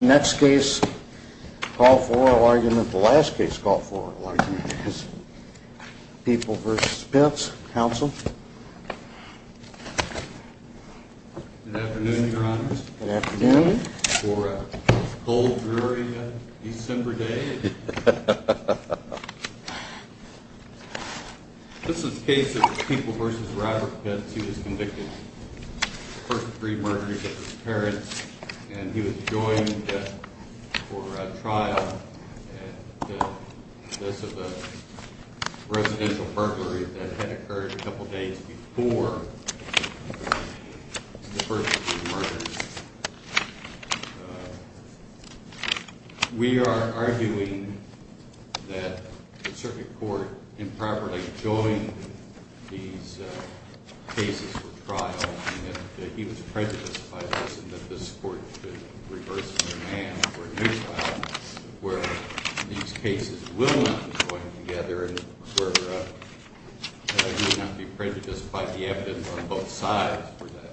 Next case, call for oral argument. The last case, call for oral argument is People v. Pitts. Counsel. Good afternoon, your honors. Good afternoon. For a cold, dreary December day. This is a case of People v. Robert Pitts. He was convicted of the first three murders of his parents. And he was joined for trial in the case of a residential burglary that had occurred a couple days before the first three murders. We are arguing that the circuit court improperly joined these cases for trial and that he was prejudiced by this and that this court should reverse the demand for a new trial where these cases will not be joined together and where he may not be prejudiced by the evidence on both sides for that.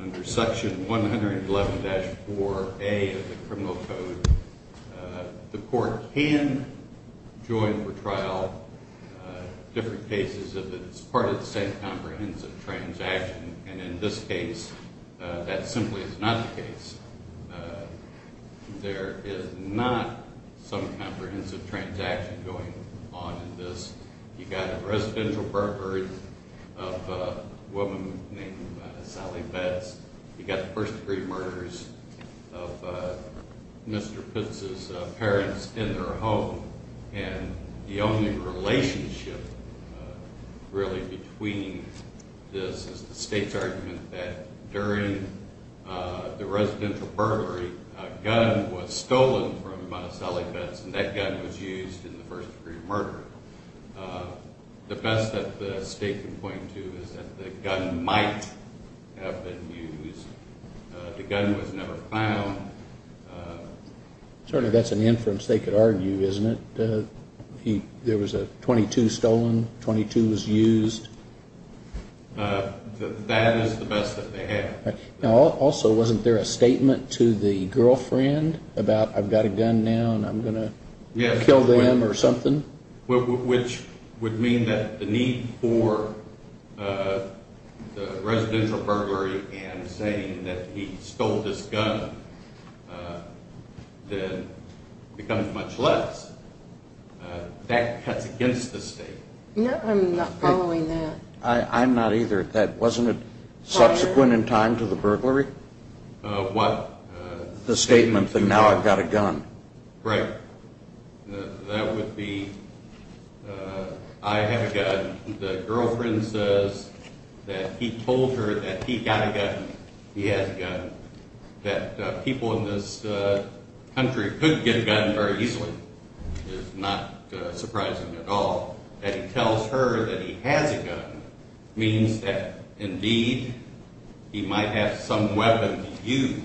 Under section 111-4A of the criminal code, the court can join for trial different cases if it's part of the same comprehensive transaction. And in this case, that simply is not the case. There is not some comprehensive transaction going on in this. You've got a residential burglary of a woman named Sally Betts. You've got the first three murders of Mr. Pitts' parents in their home. And the only relationship really between this is the state's argument that during the residential burglary, a gun was stolen from Sally Betts and that gun was used in the first three murders. The best that the state can point to is that the gun might have been used. The gun was never found. Certainly that's an inference they could argue, isn't it? There was a .22 stolen, .22 was used. That is the best that they have. Also, wasn't there a statement to the girlfriend about I've got a gun now and I'm going to kill them or something? Which would mean that the need for the residential burglary and saying that he stole this gun then becomes much less. That cuts against the state. No, I'm not following that. I'm not either. Wasn't it subsequent in time to the burglary? What? The statement that now I've got a gun. Right. That would be I have a gun. The girlfriend says that he told her that he got a gun, he has a gun. That people in this country could get a gun very easily is not surprising at all. That he tells her that he has a gun means that indeed he might have some weapon to use.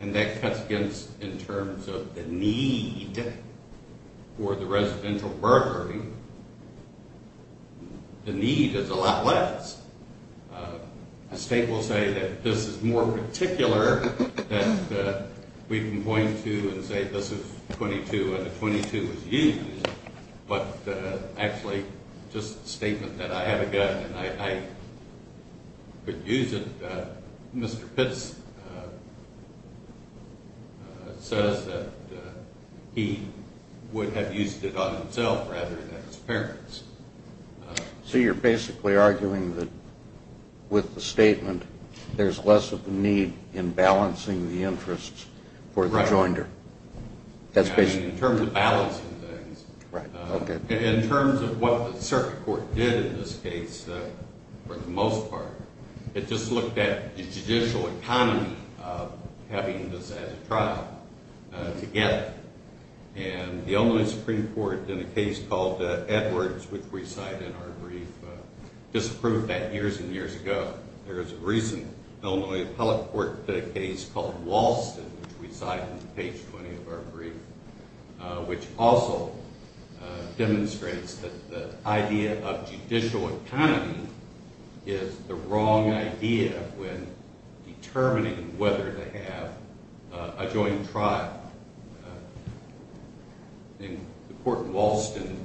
And that cuts against in terms of the need for the residential burglary. The need is a lot less. A state will say that this is more particular that we can point to and say this is 22 and the 22 was used. But actually just a statement that I have a gun and I could use it. Mr. Pitts says that he would have used it on himself rather than his parents. So you're basically arguing that with the statement there's less of a need in balancing the interests for the joinder. In terms of balancing things. In terms of what the circuit court did in this case for the most part. It just looked at the judicial economy of having this as a trial together. And the Illinois Supreme Court in a case called Edwards which we cite in our brief. Disapproved that years and years ago. There's a recent Illinois appellate court case called Walston which we cite in page 20 of our brief. Which also demonstrates that the idea of judicial economy is the wrong idea. When determining whether to have a joint trial. The court in Walston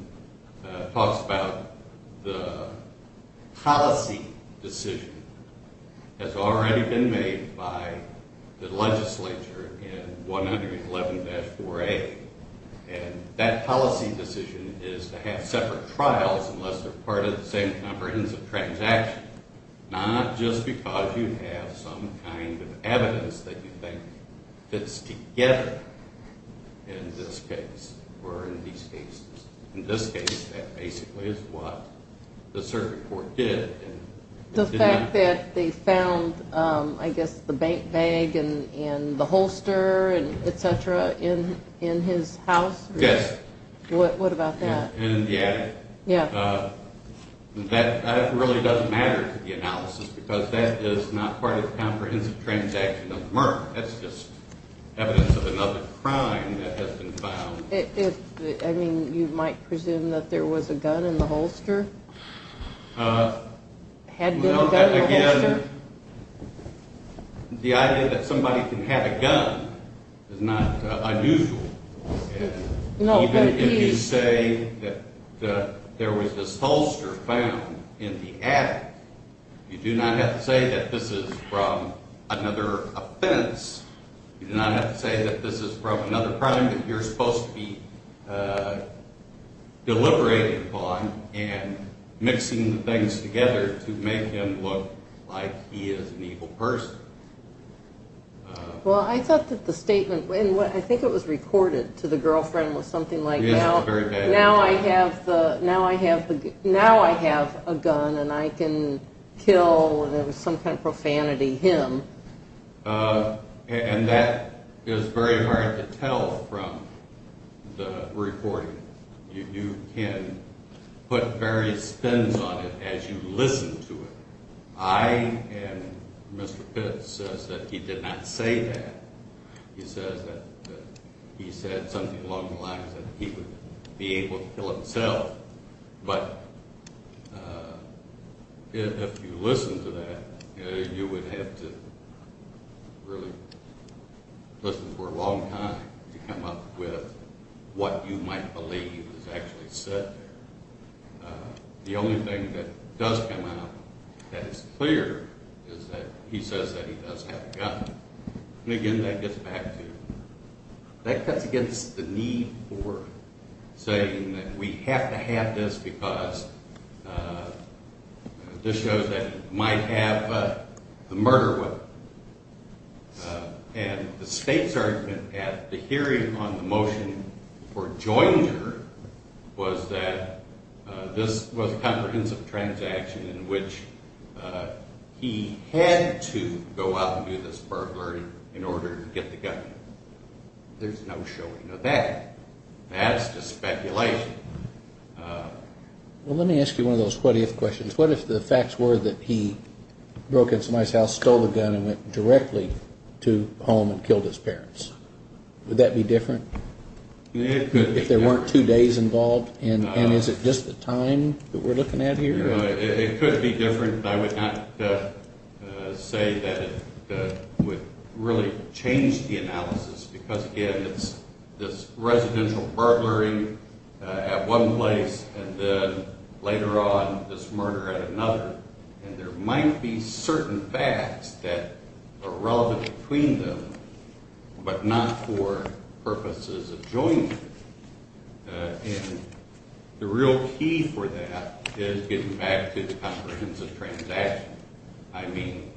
talks about the policy decision. Has already been made by the legislature in 111-4A. And that policy decision is to have separate trials unless they're part of the same comprehensive transaction. Not just because you have some kind of evidence that you think fits together in this case or in these cases. In this case that basically is what the circuit court did. The fact that they found I guess the bank bag and the holster and et cetera in his house. Yes. What about that? In the attic. Yeah. That really doesn't matter to the analysis because that is not part of the comprehensive transaction of Merck. That's just evidence of another crime that has been found. I mean you might presume that there was a gun in the holster? Had there been a gun in the holster? The idea that somebody can have a gun is not unusual. Even if you say that there was this holster found in the attic, you do not have to say that this is from another offense. You do not have to say that this is from another crime that you're supposed to be deliberating upon and mixing things together to make him look like he is an evil person. Well, I thought that the statement, and I think it was recorded to the girlfriend, was something like now I have a gun and I can kill, and there was some kind of profanity, him. And that is very hard to tell from the recording. You can put various spins on it as you listen to it. I and Mr. Pitts says that he did not say that. He says that he said something along the lines that he would be able to kill himself. But if you listen to that, you would have to really listen for a long time to come up with what you might believe is actually said there. The only thing that does come out that is clear is that he says that he does have a gun. And again, that gets back to, that cuts against the need for saying that we have to have this because this shows that he might have the murder weapon. And the state's argument at the hearing on the motion for Joinger was that this was a comprehensive transaction in which he had to go out and do this burglary in order to get the gun. There's no showing of that. That is just speculation. Well, let me ask you one of those what if questions. What if the facts were that he broke into somebody's house, stole the gun, and went directly to home and killed his parents? Would that be different if there weren't two days involved? And is it just the time that we're looking at here? It could be different. I would not say that it would really change the analysis because, again, it's this residential burglary at one place and then later on this murder at another. And there might be certain facts that are relevant between them but not for purposes of Joinger. And the real key for that is getting back to the comprehensive transaction. I mean,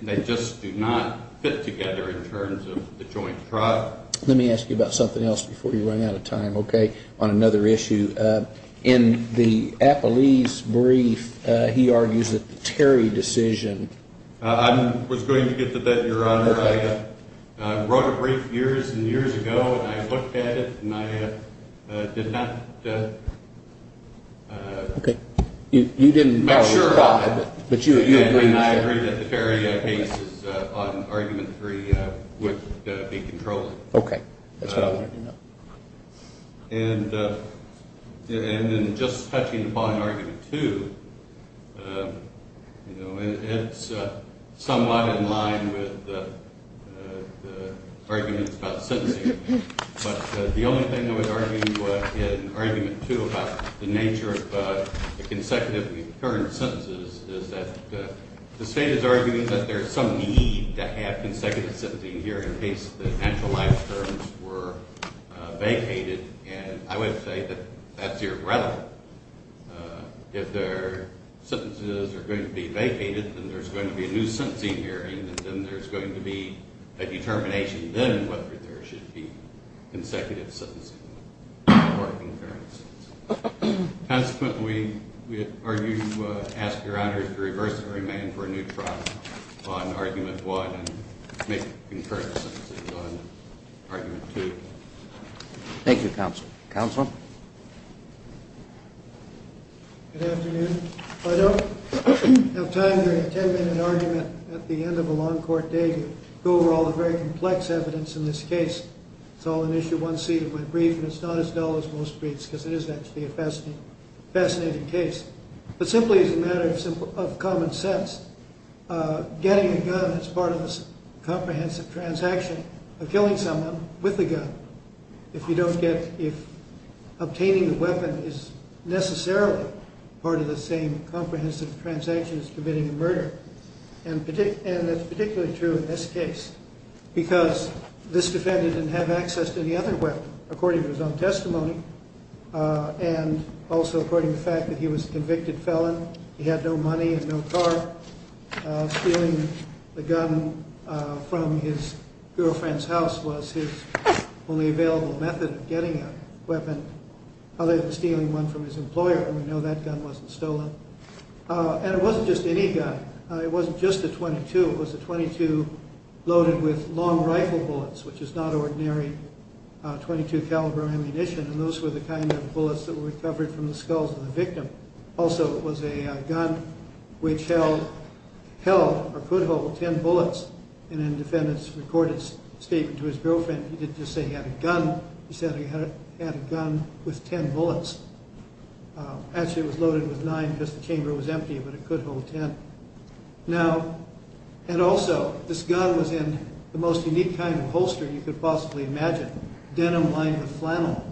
they just do not fit together in terms of the joint trial. Let me ask you about something else before you run out of time, okay, on another issue. In the Apolli's brief, he argues that the Terry decision. I wrote a brief years and years ago, and I looked at it, and I did not. Okay. You didn't make sure, but you agreed. I agreed that the Terry cases on argument three would be controlled. Okay. That's what I wanted to know. And then just touching upon argument two, it's somewhat in line with the arguments about sentencing. But the only thing I would argue in argument two about the nature of the consecutive current sentences is that the state is arguing that there is some need to have consecutive sentencing here in case the actual life terms were vacated. And I would say that that's irrelevant. If their sentences are going to be vacated, then there's going to be a new sentencing hearing, and then there's going to be a determination then whether there should be consecutive sentencing or concurrent sentences. Consequently, we argue to ask Your Honor to reverse the remand for a new trial on argument one and make concurrent sentences on argument two. Thank you, Counsel. Counsel. Good afternoon. I don't have time during a 10-minute argument at the end of a long court day to go over all the very complex evidence in this case. It's all an issue one seat of my brief, and it's not as dull as most briefs because it is actually a fascinating case. But simply as a matter of common sense, getting a gun is part of a comprehensive transaction of killing someone with a gun. If obtaining the weapon is necessarily part of the same comprehensive transaction as committing a murder, and that's particularly true in this case, because this defendant didn't have access to any other weapon according to his own testimony and also according to the fact that he was a convicted felon. He had no money and no car. Stealing the gun from his girlfriend's house was his only available method of getting a weapon other than stealing one from his employer. We know that gun wasn't stolen. And it wasn't just any gun. It wasn't just a .22. It was a .22 loaded with long rifle bullets, which is not ordinary .22 caliber ammunition, and those were the kind of bullets that were recovered from the skulls of the victim. Also, it was a gun which held or could hold ten bullets. And in the defendant's recorded statement to his girlfriend, he didn't just say he had a gun. He said he had a gun with ten bullets. Actually, it was loaded with nine because the chamber was empty, but it could hold ten. Now, and also, this gun was in the most unique kind of holster you could possibly imagine, denim lined with flannel.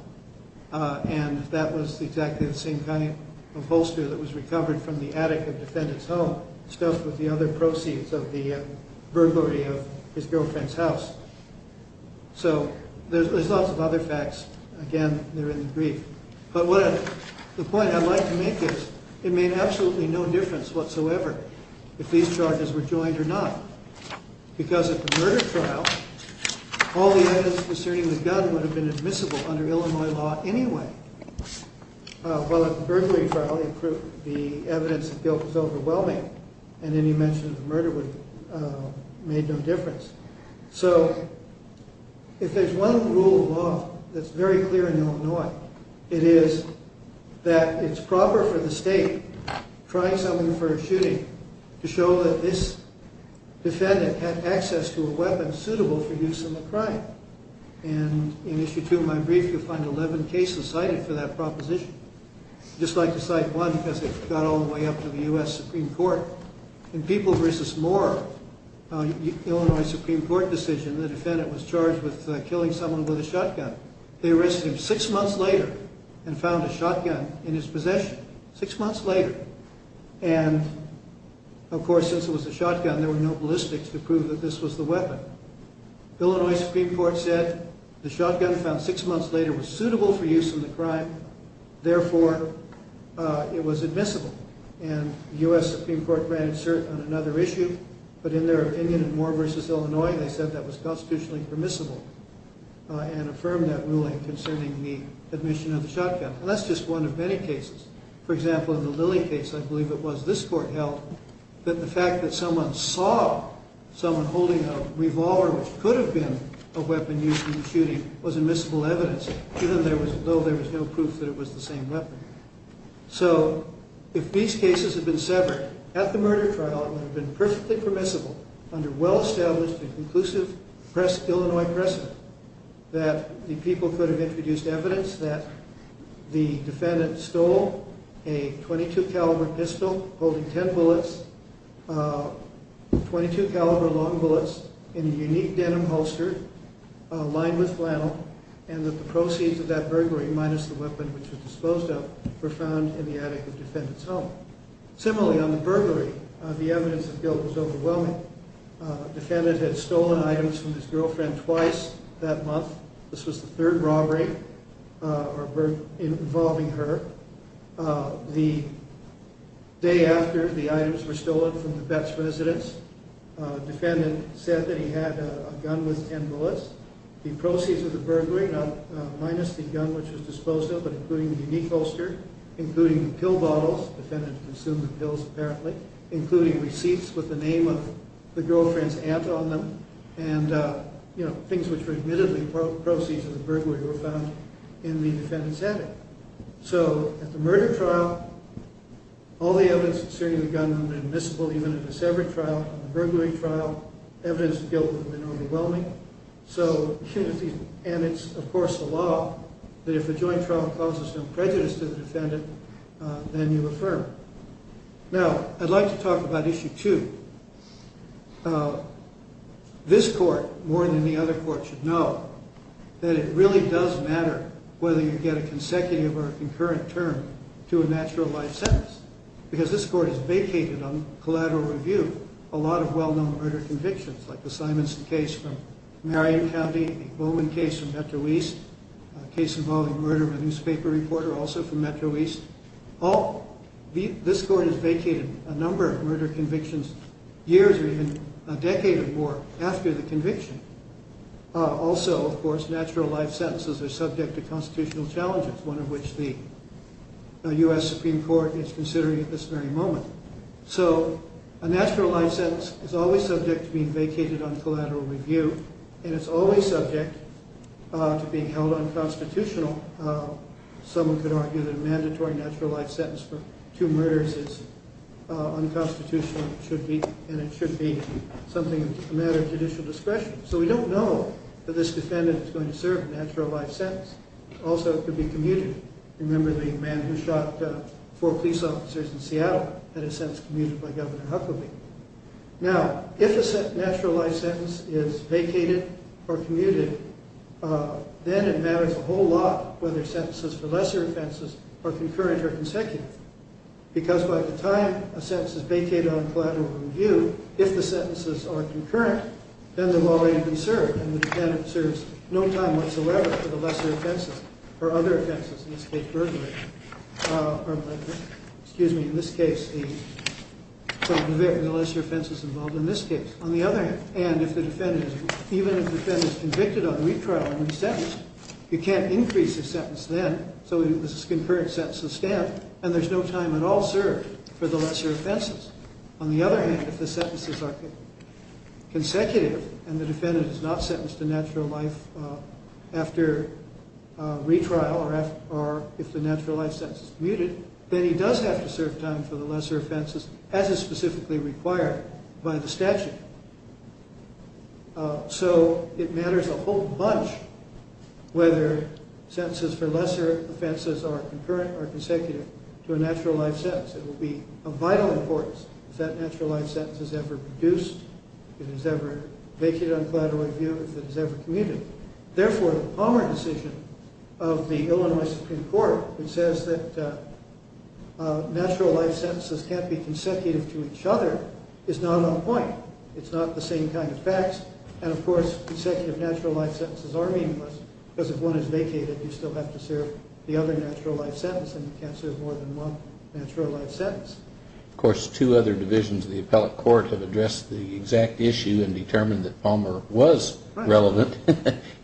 And that was exactly the same kind of holster that was recovered from the attic of the defendant's home, stuffed with the other proceeds of the burglary of his girlfriend's house. So there's lots of other facts. Again, they're in the brief. But the point I'd like to make is it made absolutely no difference whatsoever if these charges were joined or not. Because at the murder trial, all the evidence concerning the gun would have been admissible under Illinois law anyway. While at the burglary trial, the evidence of guilt was overwhelming, and any mention of murder made no difference. So if there's one rule of law that's very clear in Illinois, it is that it's proper for the state, trying someone for a shooting, to show that this defendant had access to a weapon suitable for use in the crime. And in Issue 2 of my brief, you'll find 11 cases cited for that proposition. I'd just like to cite one because it got all the way up to the U.S. Supreme Court. In People v. Moore, an Illinois Supreme Court decision, the defendant was charged with killing someone with a shotgun. They arrested him six months later and found a shotgun in his possession. Six months later. And, of course, since it was a shotgun, there were no ballistics to prove that this was the weapon. Illinois Supreme Court said the shotgun found six months later was suitable for use in the crime. Therefore, it was admissible. And the U.S. Supreme Court ran insert on another issue. But in their opinion in Moore v. Illinois, they said that was constitutionally permissible and affirmed that ruling concerning the admission of the shotgun. And that's just one of many cases. For example, in the Lilly case, I believe it was this court held, that the fact that someone saw someone holding a revolver, which could have been a weapon used in the shooting, was admissible evidence, even though there was no proof that it was the same weapon. So if these cases had been severed at the murder trial and had been perfectly permissible under well-established and conclusive Illinois precedent, that the people could have introduced evidence that the defendant stole a .22 caliber pistol holding ten bullets, .22 caliber long bullets in a unique denim holster lined with flannel, and that the proceeds of that burglary, minus the weapon which was disposed of, were found in the attic of the defendant's home. Similarly, on the burglary, the evidence of guilt was overwhelming. The defendant had stolen items from his girlfriend twice that month. This was the third robbery involving her. The day after the items were stolen from the Betts residence, the defendant said that he had a gun with ten bullets. The proceeds of the burglary, minus the gun which was disposed of, but including the unique holster, including the pill bottles, the defendant consumed the pills apparently, including receipts with the name of the girlfriend's aunt on them, and things which were admittedly proceeds of the burglary were found in the defendant's attic. So at the murder trial, all the evidence concerning the gun was admissible, even at the severed trial. At the burglary trial, evidence of guilt was enormously overwhelming. And it's, of course, the law that if a joint trial causes no prejudice to the defendant, then you affirm. Now, I'd like to talk about issue two. This court, more than any other court, should know that it really does matter whether you get a consecutive or a concurrent term to a natural life sentence, because this court has vacated on collateral review a lot of well-known murder convictions, like the Simonson case from Marion County, the Bowman case from Metro East, a case involving murder of a newspaper reporter, also from Metro East. This court has vacated a number of murder convictions years or even a decade or more after the conviction. Also, of course, natural life sentences are subject to constitutional challenges, one of which the U.S. Supreme Court is considering at this very moment. So a natural life sentence is always subject to being vacated on collateral review, and it's always subject to being held unconstitutional. Someone could argue that a mandatory natural life sentence for two murders is unconstitutional, and it should be a matter of judicial discretion. So we don't know that this defendant is going to serve a natural life sentence. Also, it could be commuted. Remember the man who shot four police officers in Seattle had his sentence commuted by Governor Huckabee. Now, if a natural life sentence is vacated or commuted, then it matters a whole lot whether sentences for lesser offenses are concurrent or consecutive, because by the time a sentence is vacated on collateral review, if the sentences are concurrent, then they've already been served, and the defendant serves no time whatsoever for the lesser offenses or other offenses, in this case, burglary. Excuse me. In this case, the lesser offenses involved in this case. On the other hand, even if the defendant is convicted on retrial and is sentenced, you can't increase his sentence then, so it's a concurrent sentence of stamp, and there's no time at all served for the lesser offenses. On the other hand, if the sentences are consecutive and the defendant is not sentenced to natural life after retrial or if the natural life sentence is commuted, then he does have to serve time for the lesser offenses as is specifically required by the statute. So it matters a whole bunch whether sentences for lesser offenses are concurrent or consecutive to a natural life sentence. It will be of vital importance if that natural life sentence is ever reduced, if it is ever vacated on collateral review, if it is ever commuted. Therefore, the Palmer decision of the Illinois Supreme Court, which says that natural life sentences can't be consecutive to each other, is not on point. It's not the same kind of facts, and of course, consecutive natural life sentences are meaningless because if one is vacated, you still have to serve the other natural life sentence, and you can't serve more than one natural life sentence. Of course, two other divisions of the appellate court have addressed the exact issue and determined that Palmer was relevant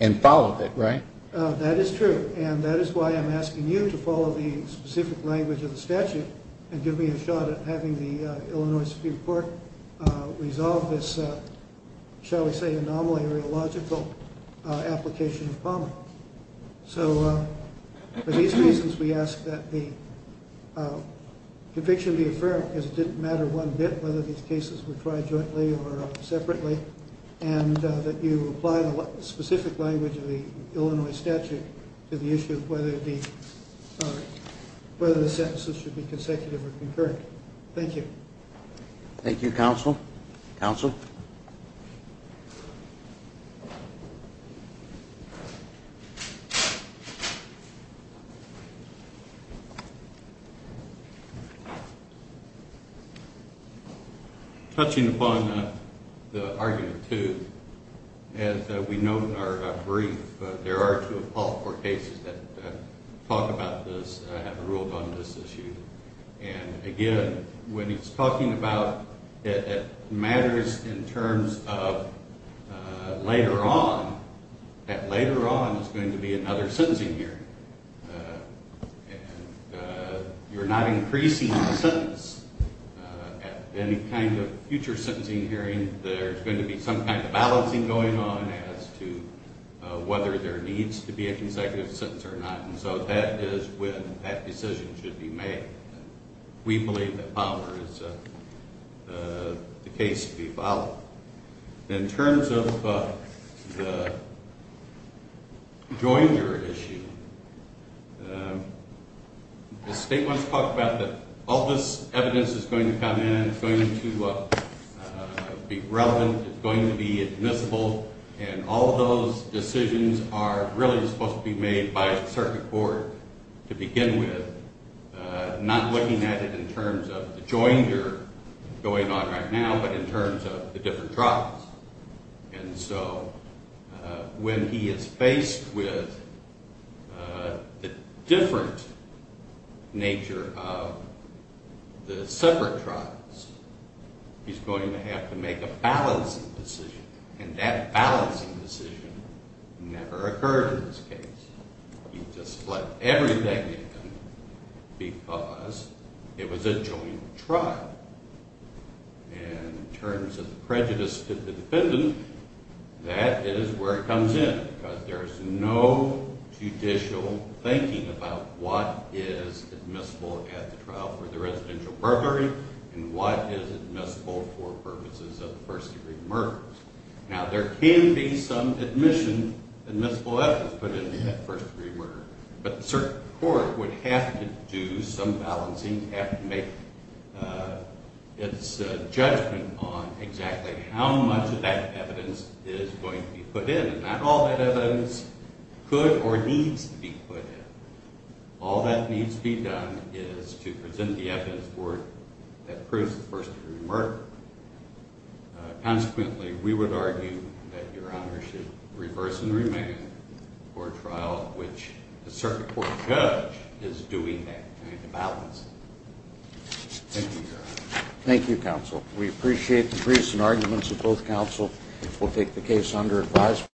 and followed it, right? That is true, and that is why I'm asking you to follow the specific language of the statute and give me a shot at having the Illinois Supreme Court resolve this, shall we say, anomaly or illogical application of Palmer. So, for these reasons, we ask that the conviction be affirmed because it didn't matter one bit whether these cases were tried jointly or separately, and that you apply the specific language of the Illinois statute to the issue of whether the sentences should be consecutive or concurrent. Thank you. Thank you, counsel. Counsel? Touching upon the argument, too, as we note in our brief, there are two appellate court cases that talk about this and have ruled on this issue. And, again, when it's talking about it matters in terms of later on, that later on is going to be another sentencing hearing. You're not increasing the sentence. At any kind of future sentencing hearing, there's going to be some kind of balancing going on as to whether there needs to be a consecutive sentence or not. And so that is when that decision should be made. We believe that Palmer is the case to be followed. In terms of the jointer issue, the state wants to talk about that all this evidence is going to come in, it's going to be relevant, it's going to be admissible, and all those decisions are really supposed to be made by the circuit court to begin with, not looking at it in terms of the jointer going on right now, but in terms of the different trials. And so when he is faced with the different nature of the separate trials, he's going to have to make a balancing decision, and that balancing decision never occurred in this case. He just let everything in because it was a joint trial. And in terms of the prejudice to the defendant, that is where it comes in, because there's no judicial thinking about what is admissible at the trial for the residential burglary and what is admissible for purposes of first-degree murders. Now, there can be some admission, admissible evidence put into that first-degree murder, but the circuit court would have to do some balancing, have to make its judgment on exactly how much of that evidence is going to be put in. And not all that evidence could or needs to be put in. All that needs to be done is to present the evidence for it that proves the first-degree murder. Consequently, we would argue that Your Honor should reverse and remand for a trial in which the circuit court judge is doing that kind of balancing. Thank you, Your Honor. Thank you, counsel. We appreciate the briefs and arguments of both counsel. We'll take the case under advisement.